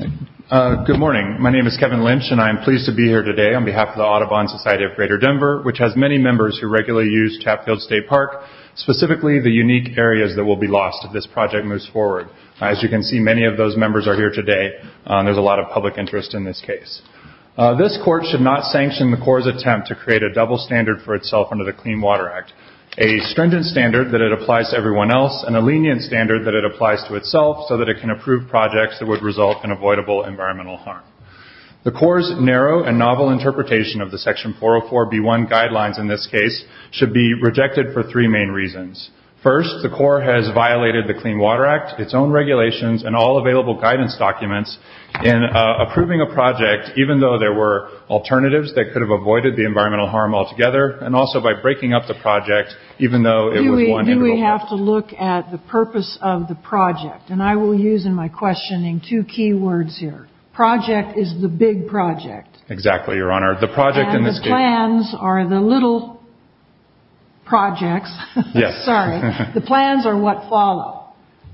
Good morning. My name is Kevin Lynch and I am pleased to be here today on behalf of the Audubon Society of Greater Denver, which has many members who regularly use Chatfield State Park, specifically the unique areas that will be lost if this project moves forward. As you can see, many of those members are here today. There's a lot of public interest in this case. This court should not sanction the Corps' attempt to create a double standard for itself under the Clean Water Act. A stringent standard that it applies to everyone else and a lenient standard that it applies to itself so that it can approve projects that would result in avoidable environmental harm. The Corps' narrow and novel interpretation of the Section 404B1 guidelines in this case should be rejected for three main reasons. First, the Corps has violated the Clean Water Act, its own regulations, and all available guidance documents in approving a project even though there were alternatives that could have avoided the environmental harm altogether and also by breaking up the project even though it was one integral part. Do we have to look at the purpose of the project? And I will use in my questioning two key words here. Project is the big project. Exactly, Your Honor. The project in this case... And the plans are the little projects. Yes. Sorry. The plans are what follow.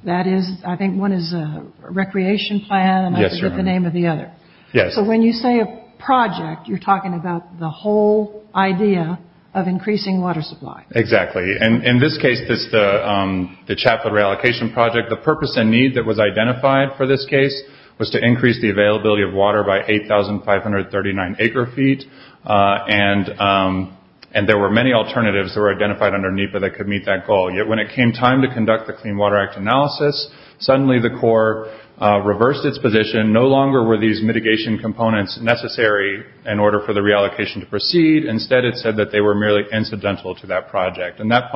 That is, I think one is a recreation plan. Yes, Your Honor. And I forget the name of the other. Yes. So when you say a project, you're talking about the whole idea of increasing water supply. Exactly. And in this case, the Chapwood Reallocation Project, the purpose and need that was identified for this case was to increase the availability of water by 8,539 acre feet. And there were many alternatives that were identified under NEPA that could meet that goal. Yet when it came time to conduct the Clean Water Act analysis, suddenly the Corps reversed its position. No longer were these mitigation components necessary in order for the reallocation to proceed. Instead, it said that they were merely incidental to that project. And that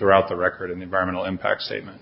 throughout the record in the environmental impact statement.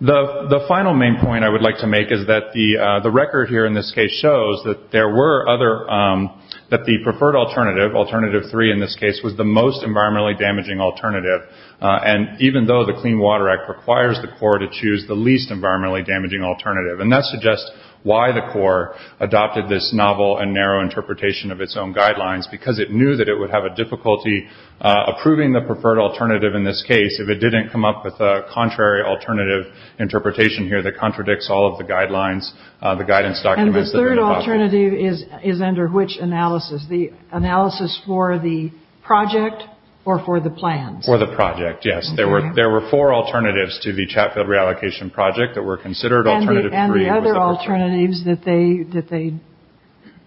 The final main point I would like to make is that the record here in this case shows that there were other, that the preferred alternative, alternative three in this case, was the most environmentally damaging alternative. And even though the Clean Water Act requires the Corps to choose the least environmentally damaging alternative. And that suggests why the Corps adopted this novel and narrow interpretation of its own guidelines, because it knew that it would have a difficulty approving the preferred alternative in this case if it didn't come up with a contrary alternative interpretation here that contradicts all of the guidelines, the guidance documents. And the third alternative is under which analysis? The analysis for the project or for the plans? For the project, yes. There were four alternatives to the Chapwood Reallocation Project that were considered alternative three. Other alternatives that they that they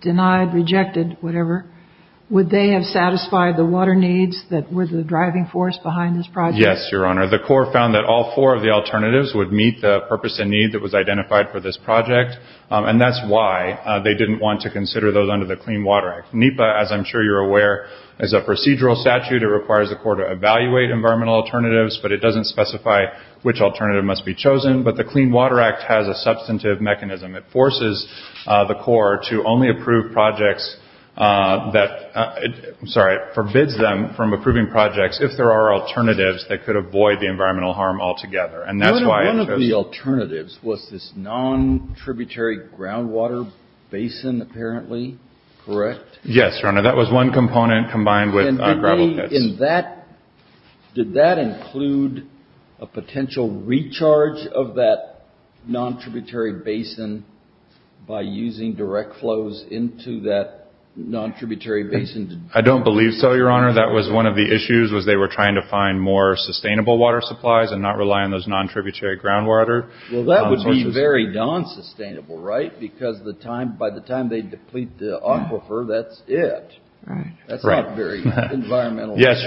denied, rejected, whatever. Would they have satisfied the water needs that were the driving force behind this project? Yes, Your Honor. The Corps found that all four of the alternatives would meet the purpose and need that was identified for this project. And that's why they didn't want to consider those under the Clean Water Act. NEPA, as I'm sure you're aware, is a procedural statute. It requires the Corps to evaluate environmental alternatives, but it doesn't specify which alternative must be chosen. But the Clean Water Act has a substantive mechanism. It forces the Corps to only approve projects that, I'm sorry, forbids them from approving projects if there are alternatives that could avoid the environmental harm altogether. And that's why- One of the alternatives was this non-tributary groundwater basin, apparently, correct? Yes, Your Honor. That was one component combined with gravel pits. Did that include a potential recharge of that non-tributary basin by using direct flows into that non-tributary basin? I don't believe so, Your Honor. That was one of the issues was they were trying to find more sustainable water supplies and not rely on those non-tributary groundwater. Well, that would be very non-sustainable, right? Because by the time they deplete the Yes,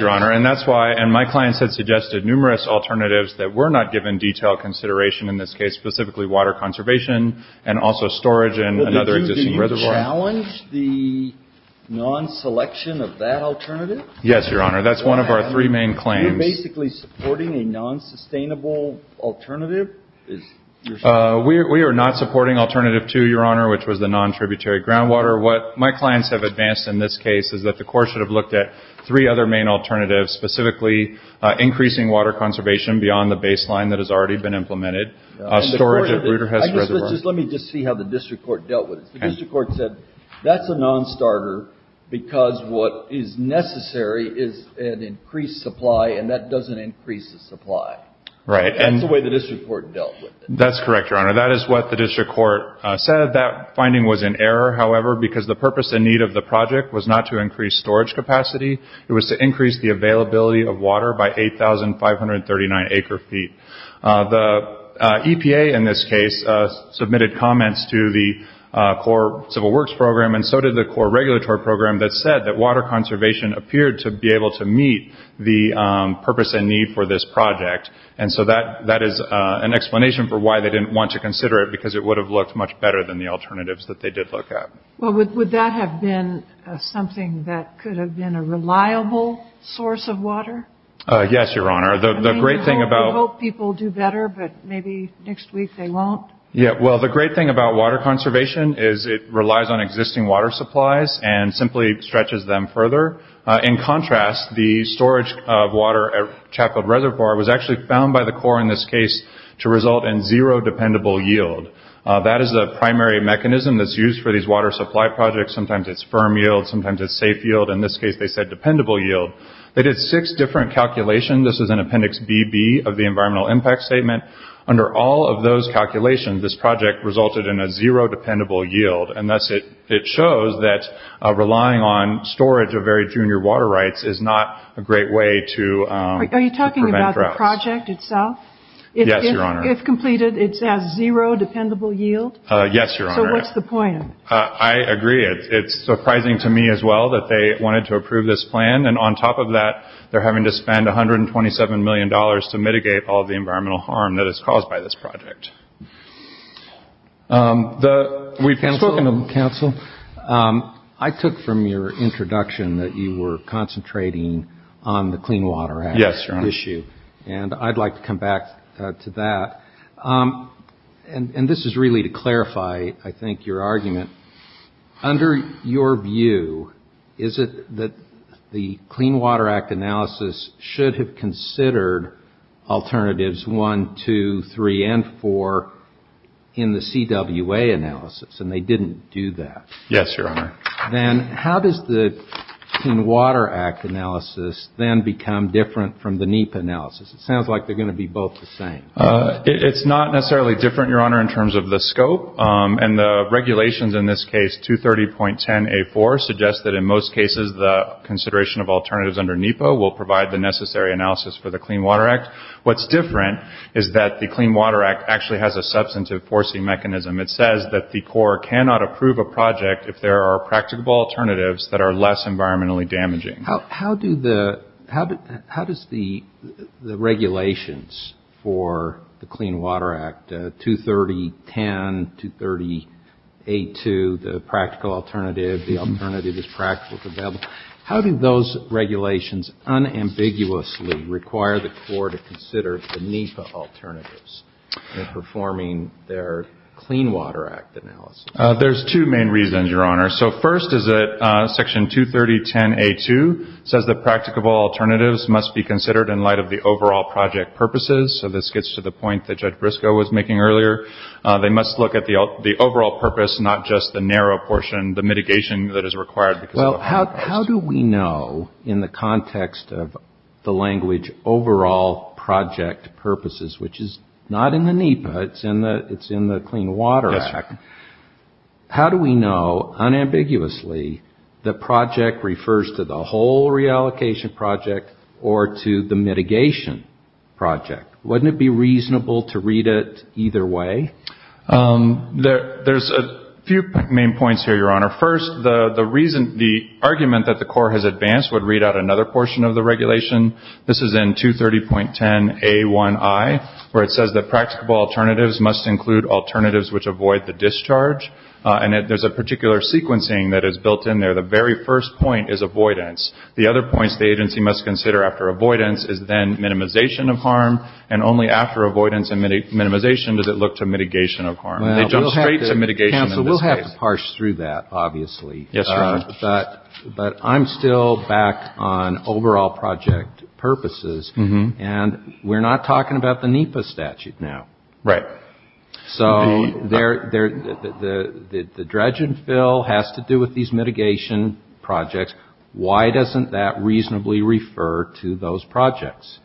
Your Honor. And my clients have suggested numerous alternatives that were not given detailed consideration in this case, specifically water conservation and also storage and another existing reservoir. But did you challenge the non-selection of that alternative? Yes, Your Honor. That's one of our three main claims. You're basically supporting a non-sustainable alternative? We are not supporting alternative two, Your Honor, which was the non-tributary groundwater. What my clients have advanced in this case is that the Corps should have looked at three other main alternatives, specifically increasing water conservation beyond the baseline that has already been implemented, storage at Ruderhest Reservoir. Let me just see how the district court dealt with this. The district court said that's a non-starter because what is necessary is an increased supply and that doesn't increase the supply. That's the way the district court dealt with it. That's correct, Your Honor. That is what the district court said. That finding was in error, however, because the purpose and need of the project was not to increase storage capacity. It was to increase the availability of water by 8,539 acre feet. The EPA in this case submitted comments to the Corps Civil Works Program and so did the Corps Regulatory Program that said that water conservation appeared to be able to meet the purpose and need for this project. And so that is an explanation for why they didn't want to consider it because it would have looked much better than the alternatives that they did look at. Would that have been something that could have been a reliable source of water? Yes, Your Honor. We hope people do better, but maybe next week they won't. Well, the great thing about water conservation is it relies on existing water supplies and simply stretches them further. In contrast, the storage of water at Chatfield Reservoir was actually found by the Corps in this case to result in zero dependable yield. That is a primary mechanism that's used for these water supply projects. Sometimes it's firm yield, sometimes it's safe yield. In this case, they said dependable yield. They did six different calculations. This is in Appendix BB of the Environmental Impact Statement. Under all of those calculations, this project resulted in a zero dependable yield. And thus it shows that relying on storage of very junior water rights is not a great way to prevent droughts. Are you talking about the project itself? Yes, Your Honor. If completed, it has zero dependable yield? Yes, Your Honor. So what's the point? I agree. It's surprising to me as well that they wanted to approve this plan. And on top of that, they're having to spend $127 million to mitigate all of the environmental harm that is caused by this project. We've spoken to counsel. I took from your introduction that you were concentrating on the Clean Water Act issue. And I'd like to come back to that. And this is really to clarify, I think, your argument. Under your view, is it that the Clean Water Act analysis should have considered alternatives 1, 2, 3, and 4 in the CWA analysis? And they didn't do that. Yes, Your Honor. Then how does the Clean Water Act analysis then become different from the NEPA analysis? It sounds like they're going to be both the same. It's not necessarily different, Your Honor, in terms of the scope. And the regulations in this case, 230.10A4, suggests that in most cases the consideration of alternatives under NEPA will provide the necessary analysis for the Clean Water Act. What's different is that the Clean Water Act actually has a substantive forcing mechanism. It says that the Corps cannot approve a project if there are practicable alternatives that are less environmentally damaging. How does the regulations for the Clean Water Act, 230.10, 230.82, the practical alternative, the alternative is practical, how do those regulations unambiguously require the Corps to consider the NEPA alternatives in performing their Clean Water Act analysis? There's two main reasons, Your Honor. So first is that Section 230.10A2 says that practicable alternatives must be considered in light of the overall project purposes. So this gets to the point that Judge Briscoe was making earlier. They must look at the overall purpose, not just the narrow portion, the mitigation that is required. Well, how do we know in the context of the language overall project purposes, which is not in the NEPA, it's in the Clean Water Act, how do we know unambiguously that project refers to the whole reallocation project or to the mitigation project? Wouldn't it be reasonable to read it either way? There's a few main points here, Your Honor. First, the argument that the Corps has advanced would read out another portion of the regulation. This is in 230.10A1I, where it says that practicable alternatives must include alternatives which avoid the discharge. And there's a particular sequencing that is built in there. The very first point is avoidance. The other points the agency must consider after avoidance is then minimization of harm, and only after avoidance and minimization does it look to mitigation of harm. Counsel, we'll have to parse through that, obviously. Yes, Your Honor. But I'm still back on overall project purposes, and we're not talking about the NEPA statute now. Right. So the dredge and fill has to do with these mitigation projects. Why doesn't that reasonably refer to those projects?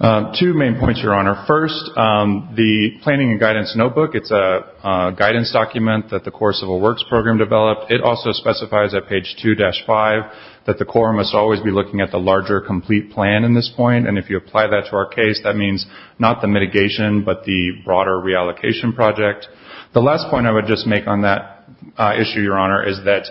Two main points, Your Honor. First, the planning and guidance notebook, it's a guidance document that the Corps Civil Works Program developed. It also specifies at page 2-5 that the Corps must always be looking at the larger complete plan in this point. And if you apply that to our case, that means not the mitigation but the broader reallocation project. The last point I would just make on that issue, Your Honor, is that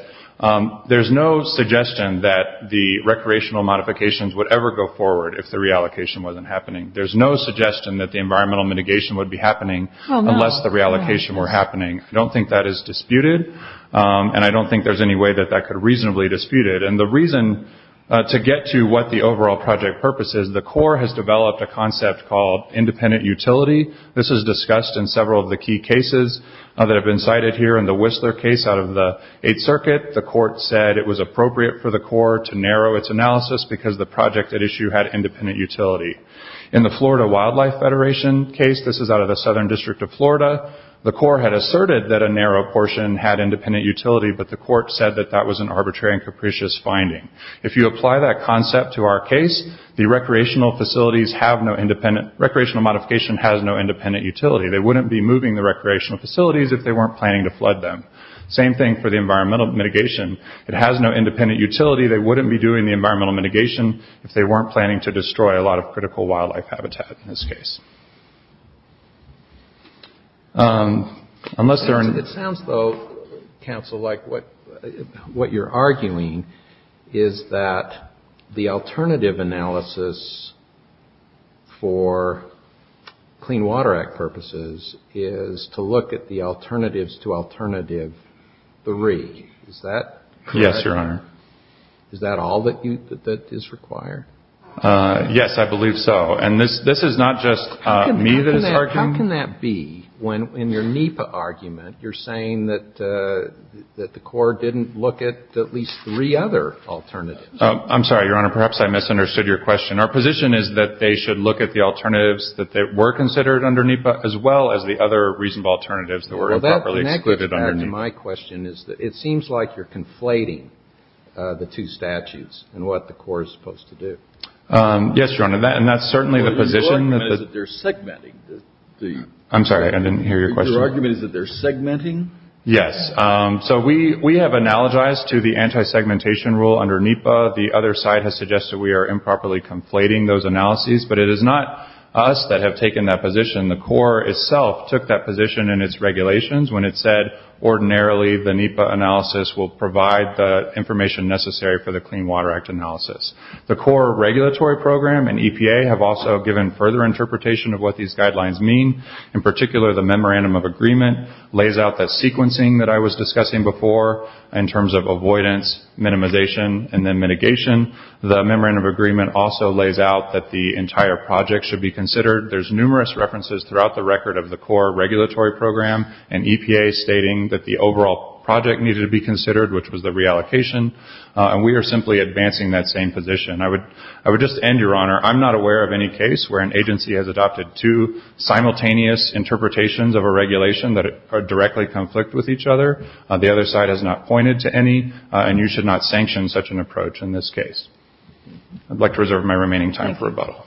there's no suggestion that the recreational modifications would ever go forward if the reallocation wasn't happening. There's no suggestion that the environmental mitigation would be happening unless the reallocation were happening. I don't think that is disputed, and I don't think there's any way that that could reasonably dispute it. And the reason to get to what the overall project purpose is, the Corps has developed a concept called independent utility. This is discussed in several of the key cases that have been cited here. In the Whistler case out of the Eighth Circuit, the court said it was appropriate for the Corps to narrow its analysis because the project at issue had independent utility. In the Florida Wildlife Federation case, this is out of the Southern District of Florida, the Corps had asserted that a narrow portion had independent utility, but the court said that that was an arbitrary and capricious finding. If you apply that concept to our case, the recreational facilities have no independent, recreational modification has no independent utility. They wouldn't be moving the recreational facilities if they weren't planning to flood them. Same thing for the environmental mitigation. It has no independent utility. They wouldn't be doing the environmental mitigation if they weren't planning to destroy a lot of critical wildlife habitat in this case. It sounds though, counsel, like what you're arguing is that the alternative analysis for Clean Water Act purposes is to look at the alternatives to alternative three. Is that correct? Yes, Your Honor. Is that all that is required? Yes, I believe so. And this is not just me that is arguing. How can that be when in your NEPA argument you're saying that the Corps didn't look at at least three other alternatives? I'm sorry, Your Honor. Perhaps I misunderstood your question. Our position is that they should look at the alternatives that were considered under NEPA as well as the other reasonable alternatives that were improperly excluded under NEPA. My question is that it seems like you're conflating the two statutes in what the Corps is supposed to do. Yes, Your Honor. And that's certainly the position. Your argument is that they're segmenting. I'm sorry. I didn't hear your question. Your argument is that they're segmenting. Yes. So we have analogized to the anti-segmentation rule under NEPA. The other side has suggested we are improperly conflating those analyses. But it is not us that have taken that position. The Corps itself took that position in its regulations when it said ordinarily the NEPA analysis will provide the information necessary for the Clean Water Act analysis. The Corps Regulatory Program and EPA have also given further interpretation of what these guidelines mean. In particular, the Memorandum of Agreement lays out that sequencing that I was discussing before in terms of avoidance, minimization, and then mitigation. The Memorandum of Agreement also lays out that the entire project should be considered. There's numerous references throughout the record of the Corps Regulatory Program and EPA stating that the overall project needed to be considered, which was the reallocation. And we are simply advancing that same position. I would just end, Your Honor. I'm not aware of any case where an agency has adopted two simultaneous interpretations of a regulation that directly conflict with each other. The other side has not pointed to any, and you should not sanction such an approach in this case. I'd like to reserve my remaining time for rebuttal.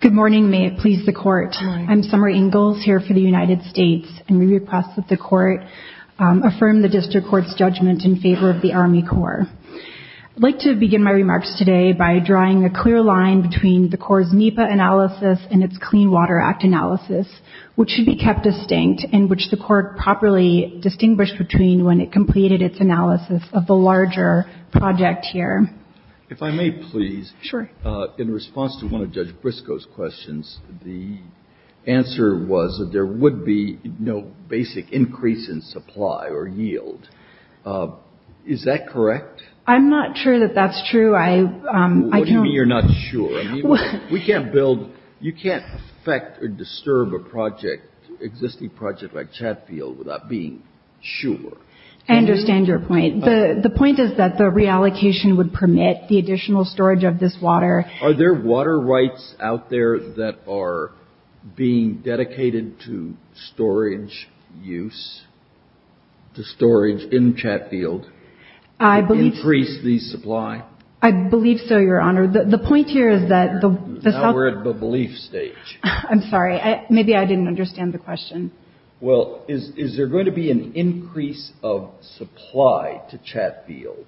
Good morning. May it please the Court. Good morning. I'm Summer Ingalls here for the United States, and we request that the Court affirm the District Court's judgment in favor of the Army Corps. I'd like to begin my remarks today by drawing a clear line between the Corps' NEPA analysis and its Clean Water Act analysis, which should be kept distinct, and which the Court properly distinguished between when it completed its analysis of the larger project here. If I may, please. Sure. In response to one of Judge Briscoe's questions, the answer was that there would be no basic increase in supply or yield. Is that correct? I'm not sure that that's true. What do you mean you're not sure? We can't build, you can't affect or disturb a project, existing project like Chatfield, without being sure. I understand your point. The point is that the reallocation would permit the additional storage of this water. Are there water rights out there that are being dedicated to storage use, to storage in Chatfield, increase the supply? I believe so, Your Honor. The point here is that the self- Now we're at the belief stage. Maybe I didn't understand the question. Well, is there going to be an increase of supply to Chatfield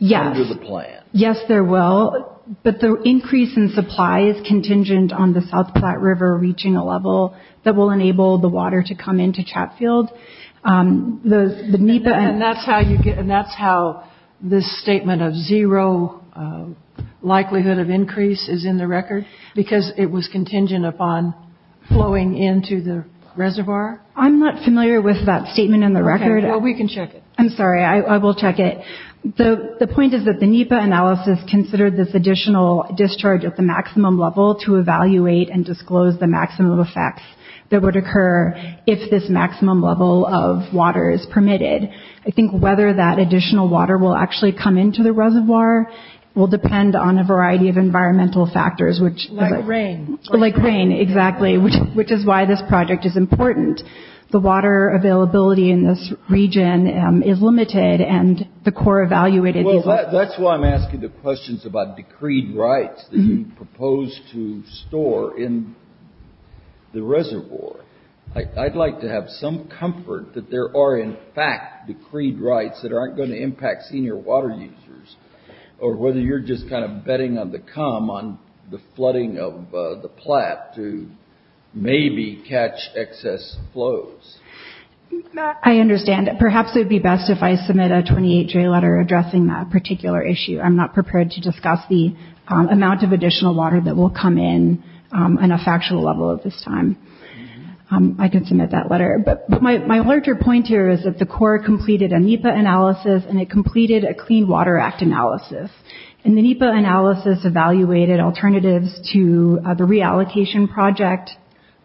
under the plan? Yes, there will. But the increase in supply is contingent on the South Platte River reaching a level that will enable the water to come into Chatfield. And that's how this statement of zero likelihood of increase is in the record, because it was contingent upon flowing into the reservoir? I'm not familiar with that statement in the record. Well, we can check it. I'm sorry, I will check it. The point is that the NEPA analysis considered this additional discharge at the maximum level to evaluate and disclose the maximum effects that would occur if this maximum level of water is permitted. I think whether that additional water will actually come into the reservoir will depend on a variety of environmental factors, which- Like rain. Like rain, exactly, which is why this project is important. The water availability in this region is limited, and the Corps evaluated these- Well, that's why I'm asking the questions about decreed rights that you propose to store in the reservoir. I'd like to have some comfort that there are, in fact, decreed rights that aren't going to impact senior water users, or whether you're just kind of betting on the come on the flooding of the Platte to maybe catch excess flows. Matt, I understand. Perhaps it would be best if I submit a 28-J letter addressing that particular issue. I'm not prepared to discuss the amount of additional water that will come in on a factual level at this time. I can submit that letter. But my larger point here is that the Corps completed a NEPA analysis, and it completed a Clean Water Act analysis. And the NEPA analysis evaluated alternatives to the reallocation project.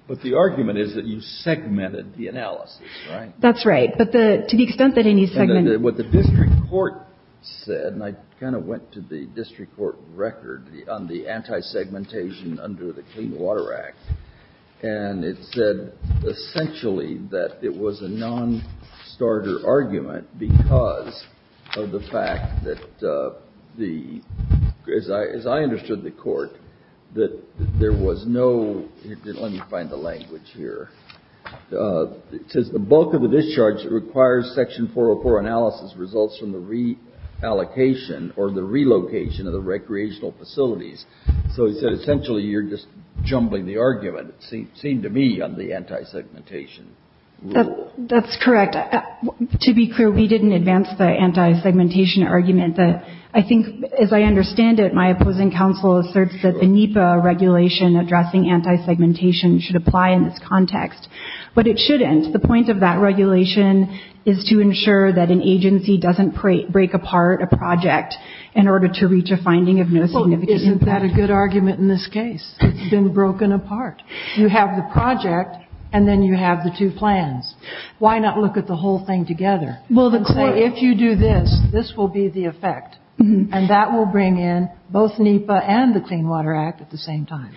But the argument is that you segmented the analysis, right? That's right. But to the extent that any segment- And what the district court said, and I kind of went to the district court record on the anti-segmentation under the Clean Water Act, and it said essentially that it was a non-starter argument because of the fact that the, as I understood the court, that there was no, let me find the language here. It says the bulk of the discharge requires Section 404 analysis results from the reallocation or the relocation of the recreational facilities. So it said essentially you're just jumbling the argument, it seemed to me, on the anti-segmentation rule. That's correct. To be clear, we didn't advance the anti-segmentation argument. I think, as I understand it, my opposing counsel asserts that a NEPA regulation addressing anti-segmentation should apply in this context. But it shouldn't. The point of that regulation is to ensure that an agency doesn't break apart a project in order to reach a finding of no significance. Isn't that a good argument in this case? It's been broken apart. You have the project, and then you have the two plans. Why not look at the whole thing together and say if you do this, this will be the effect, and that will bring in both NEPA and the Clean Water Act at the same time?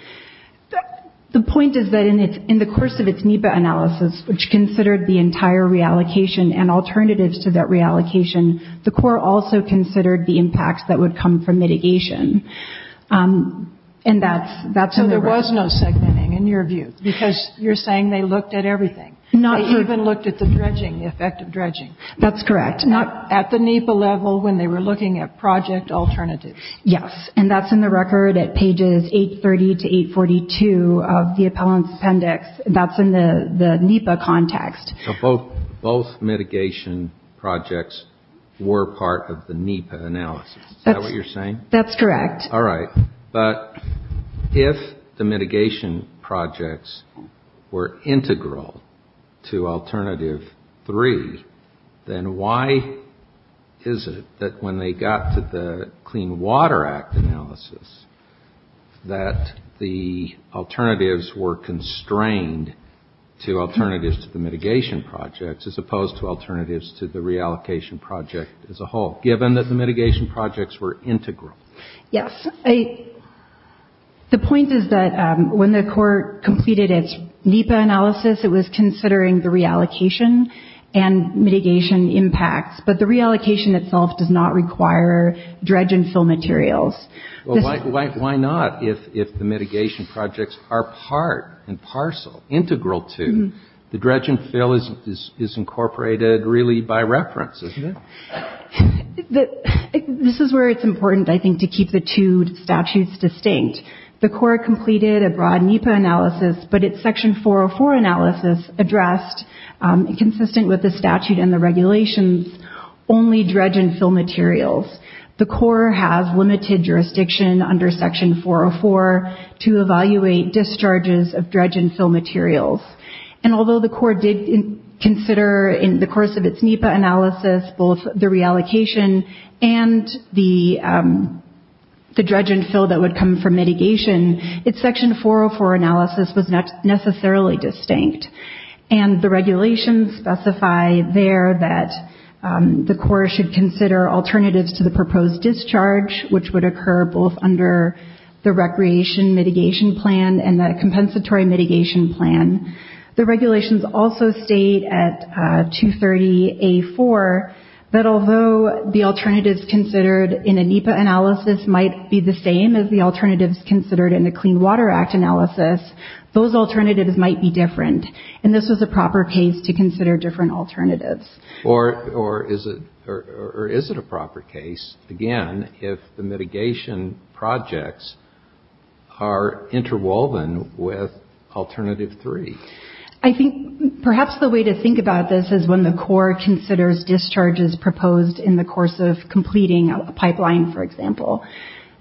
The point is that in the course of its NEPA analysis, which considered the entire reallocation and alternatives to that reallocation, the Corps also considered the impacts that would come from mitigation, and that's in the record. So there was no segmenting, in your view, because you're saying they looked at everything. They even looked at the dredging, the effect of dredging. That's correct. Not at the NEPA level when they were looking at project alternatives. Yes, and that's in the record at pages 830 to 842 of the appellant's appendix. That's in the NEPA context. So both mitigation projects were part of the NEPA analysis. Is that what you're saying? That's correct. All right. But if the mitigation projects were integral to alternative three, then why is it that when they got to the Clean Water Act analysis that the alternatives were constrained to alternatives to the mitigation projects as opposed to alternatives to the reallocation project as a whole, given that the mitigation projects were integral? Yes. The point is that when the Corps completed its NEPA analysis, it was considering the reallocation and mitigation impacts, but the reallocation itself does not require dredge and fill materials. Well, why not? If the mitigation projects are part and parcel, integral to, the dredge and fill is incorporated really by reference, isn't it? This is where it's important, I think, to keep the two statutes distinct. The Corps completed a broad NEPA analysis, but its Section 404 analysis addressed, consistent with the statute and the regulations, only dredge and fill materials. The Corps has limited jurisdiction under Section 404 to evaluate discharges of dredge and fill materials. And although the Corps did consider in the course of its NEPA analysis both the reallocation and the dredge and fill that would come from mitigation, its Section 404 analysis was not necessarily distinct. And the regulations specify there that the Corps should consider alternatives to the proposed discharge, which would occur both under the Recreation Mitigation Plan and the Compensatory Mitigation Plan. The regulations also state at 230A4 that although the alternatives considered in a NEPA analysis might be the same as the alternatives considered in the Clean Water Act analysis, those alternatives might be different. And this was a proper case to consider different alternatives. Or is it a proper case, again, if the mitigation projects are interwoven with Alternative 3? I think perhaps the way to think about this is when the Corps considers discharges proposed in the course of completing a pipeline, for example.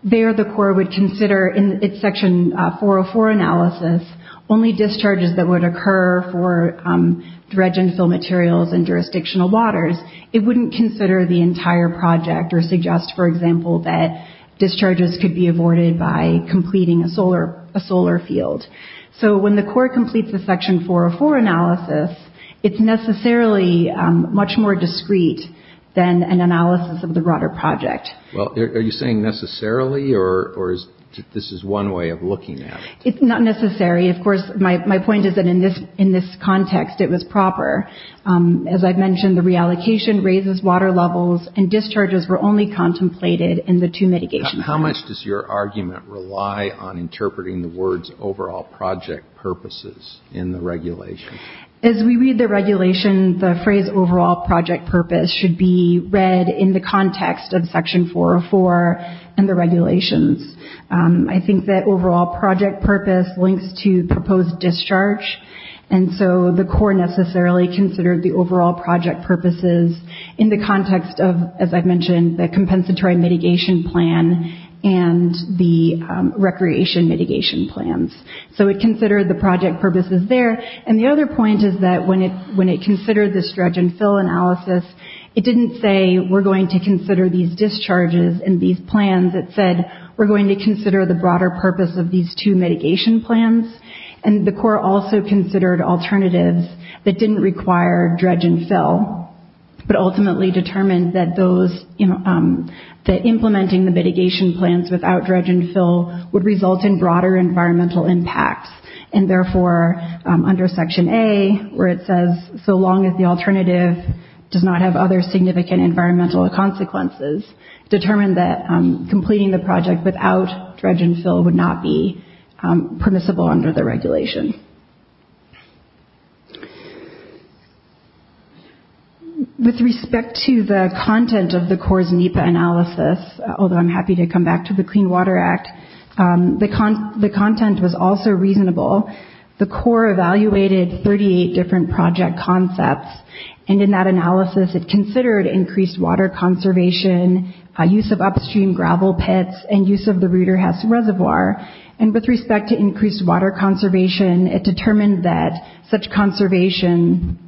There the Corps would consider in its Section 404 analysis only discharges that would occur for dredge and fill materials in jurisdictional waters. It wouldn't consider the entire project or suggest, for example, that discharges could be avoided by completing a solar field. So when the Corps completes the Section 404 analysis, it's necessarily much more discrete than an analysis of the broader project. Well, are you saying necessarily or is this one way of looking at it? It's not necessary. Of course, my point is that in this context it was proper. As I've mentioned, the reallocation raises water levels and discharges were only contemplated in the two mitigation plans. How much does your argument rely on interpreting the words overall project purposes in the regulation? As we read the regulation, the phrase overall project purpose should be read in the context of Section 404 and the regulations. I think that overall project purpose links to proposed discharge. And so the Corps necessarily considered the overall project purposes in the context of, as I've mentioned, the compensatory mitigation plan and the recreation mitigation plans. So it considered the project purposes there. And the other point is that when it considered this dredge and fill analysis, it didn't say we're going to consider these discharges and these plans. It said we're going to consider the broader purpose of these two mitigation plans. And the Corps also considered alternatives that didn't require dredge and fill, but ultimately determined that implementing the mitigation plans without dredge and fill would result in broader environmental impacts. And therefore, under Section A, where it says so long as the alternative does not have other significant environmental consequences, determined that completing the project without dredge and fill would not be permissible under the regulation. Thank you. With respect to the content of the Corps' NEPA analysis, although I'm happy to come back to the Clean Water Act, the content was also reasonable. The Corps evaluated 38 different project concepts. And in that analysis, it considered increased water conservation, use of upstream gravel pits, and use of the Ruderhesse Reservoir. And with respect to increased water conservation, it determined that such conservation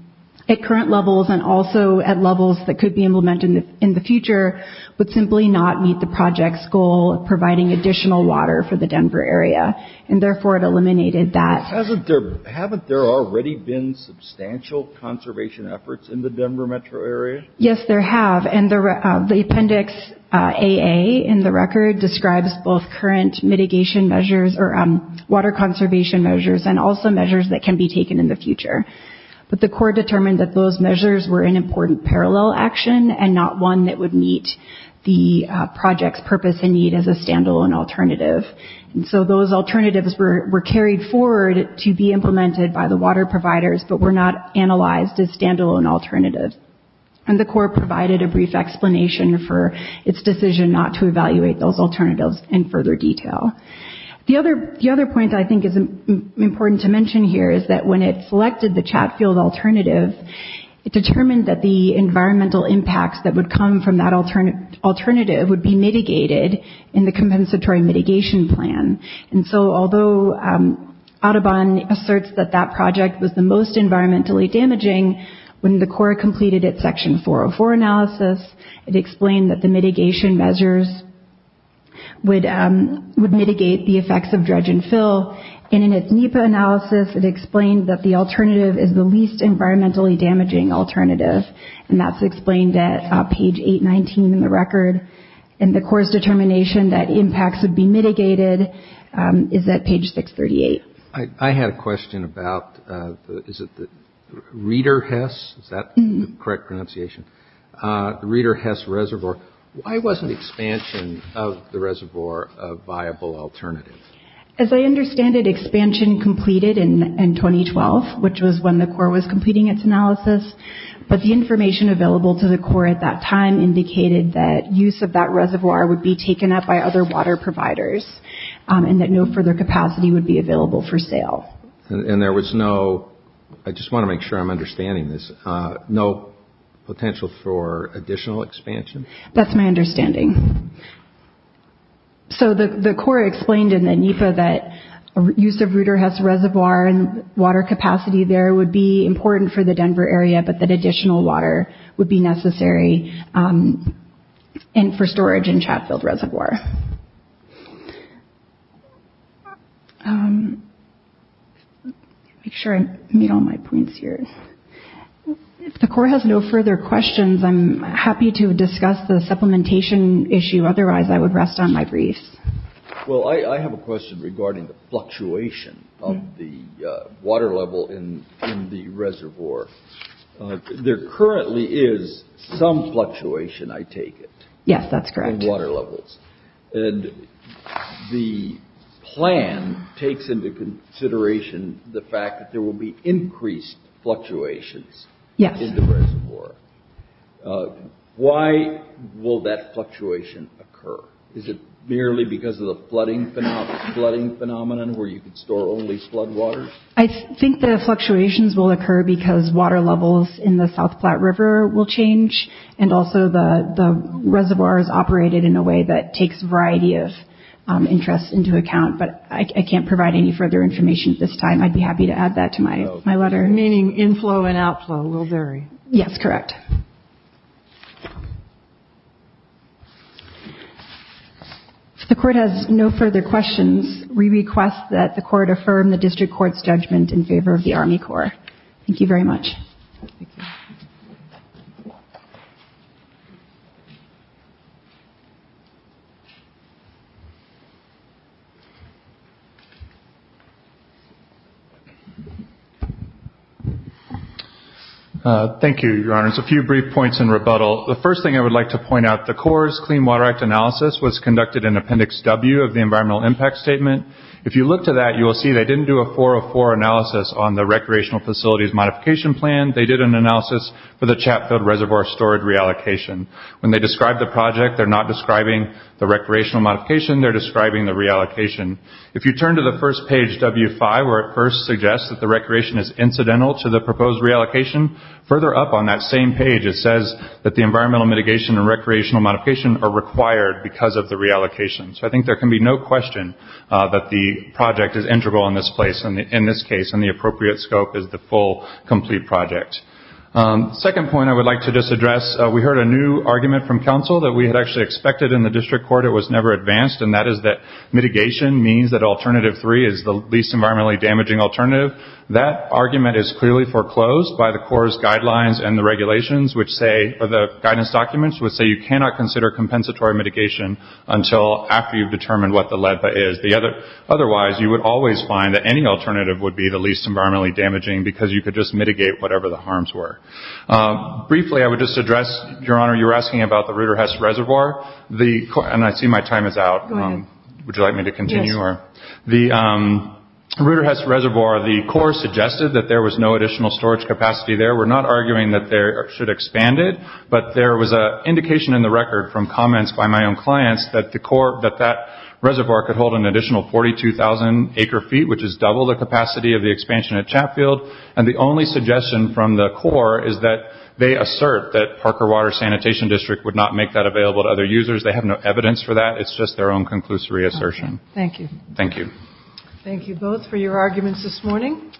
at current levels and also at levels that could be implemented in the future would simply not meet the project's goal of providing additional water for the Denver area. And therefore, it eliminated that. Haven't there already been substantial conservation efforts in the Denver metro area? Yes, there have. And the appendix AA in the record describes both current mitigation measures or water conservation measures and also measures that can be taken in the future. But the Corps determined that those measures were an important parallel action and not one that would meet the project's purpose and need as a standalone alternative. And so those alternatives were carried forward to be implemented by the water providers but were not analyzed as standalone alternatives. And the Corps provided a brief explanation for its decision not to evaluate those alternatives in further detail. The other point I think is important to mention here is that when it selected the Chatfield alternative, it determined that the environmental impacts that would come from that alternative would be mitigated in the compensatory mitigation plan. And so although Audubon asserts that that project was the most environmentally damaging, when the Corps completed its Section 404 analysis, it explained that the mitigation measures would mitigate the effects of dredge and fill. And in its NEPA analysis, it explained that the alternative is the least environmentally damaging alternative. And that's explained at page 819 in the record. And the Corps' determination that impacts would be mitigated is at page 638. I had a question about, is it the Reeder-Hess, is that the correct pronunciation? The Reeder-Hess Reservoir. Why wasn't expansion of the reservoir a viable alternative? As I understand it, expansion completed in 2012, which was when the Corps was completing its analysis. But the information available to the Corps at that time indicated that use of that reservoir would be taken up by other water providers and that no further capacity would be available for sale. And there was no, I just want to make sure I'm understanding this, no potential for additional expansion? That's my understanding. So the Corps explained in the NEPA that use of Reeder-Hess Reservoir and water capacity there would be important for the Denver area, but that additional water would be necessary for storage in Chatfield Reservoir. Make sure I meet all my points here. If the Corps has no further questions, I'm happy to discuss the supplementation issue. Otherwise, I would rest on my briefs. Well, I have a question regarding the fluctuation of the water level in the reservoir. There currently is some fluctuation, I take it. Yes, that's correct. In water levels. And the plan takes into consideration the fact that there will be increased fluctuations in the reservoir. Why will that fluctuation occur? Is it merely because of the flooding phenomenon where you can store only flood water? I think the fluctuations will occur because water levels in the South Platte River will change and also the reservoir is operated in a way that takes a variety of interests into account, but I can't provide any further information at this time. I'd be happy to add that to my letter. Meaning inflow and outflow will vary. Yes, correct. If the Court has no further questions, we request that the Court affirm the District Court's judgment in favor of the Army Corps. Thank you very much. Thank you, Your Honor. Just a few brief points in rebuttal. The first thing I would like to point out, the Corps' Clean Water Act Analysis was conducted in Appendix W of the Environmental Impact Statement. If you look to that, you will see they didn't do a 404 analysis on the Recreational Facilities Modification Plan. They did an analysis for the Chatfield Reservoir Storage Reallocation. When they describe the project, they're not describing the recreational modification. They're describing the reallocation. If you turn to the first page, W5, where it first suggests that the recreation is incidental to the proposed reallocation, further up on that same page it says that the environmental mitigation and recreational modification are required because of the reallocation. So I think there can be no question that the project is integral in this case and the appropriate scope is the full, complete project. The second point I would like to just address, we heard a new argument from counsel that we had actually expected in the District Court. It was never advanced, and that is that mitigation means that Alternative 3 is the least environmentally damaging alternative. That argument is clearly foreclosed by the Corps' guidelines and the regulations which say, or the guidance documents which say you cannot consider compensatory mitigation until after you've determined what the LEDPA is. Otherwise, you would always find that any alternative would be the least environmentally damaging because you could just mitigate whatever the harms were. Briefly, I would just address, Your Honor, you were asking about the Ruderhest Reservoir. And I see my time is out. Would you like me to continue? Sure. The Ruderhest Reservoir, the Corps suggested that there was no additional storage capacity there. We're not arguing that they should expand it, but there was an indication in the record from comments by my own clients that that reservoir could hold an additional 42,000 acre-feet, which is double the capacity of the expansion at Chatfield. And the only suggestion from the Corps is that they assert that Parker Water Sanitation District would not make that available to other users. They have no evidence for that. It's just their own conclusive reassertion. Thank you. Thank you. Thank you both for your arguments this morning.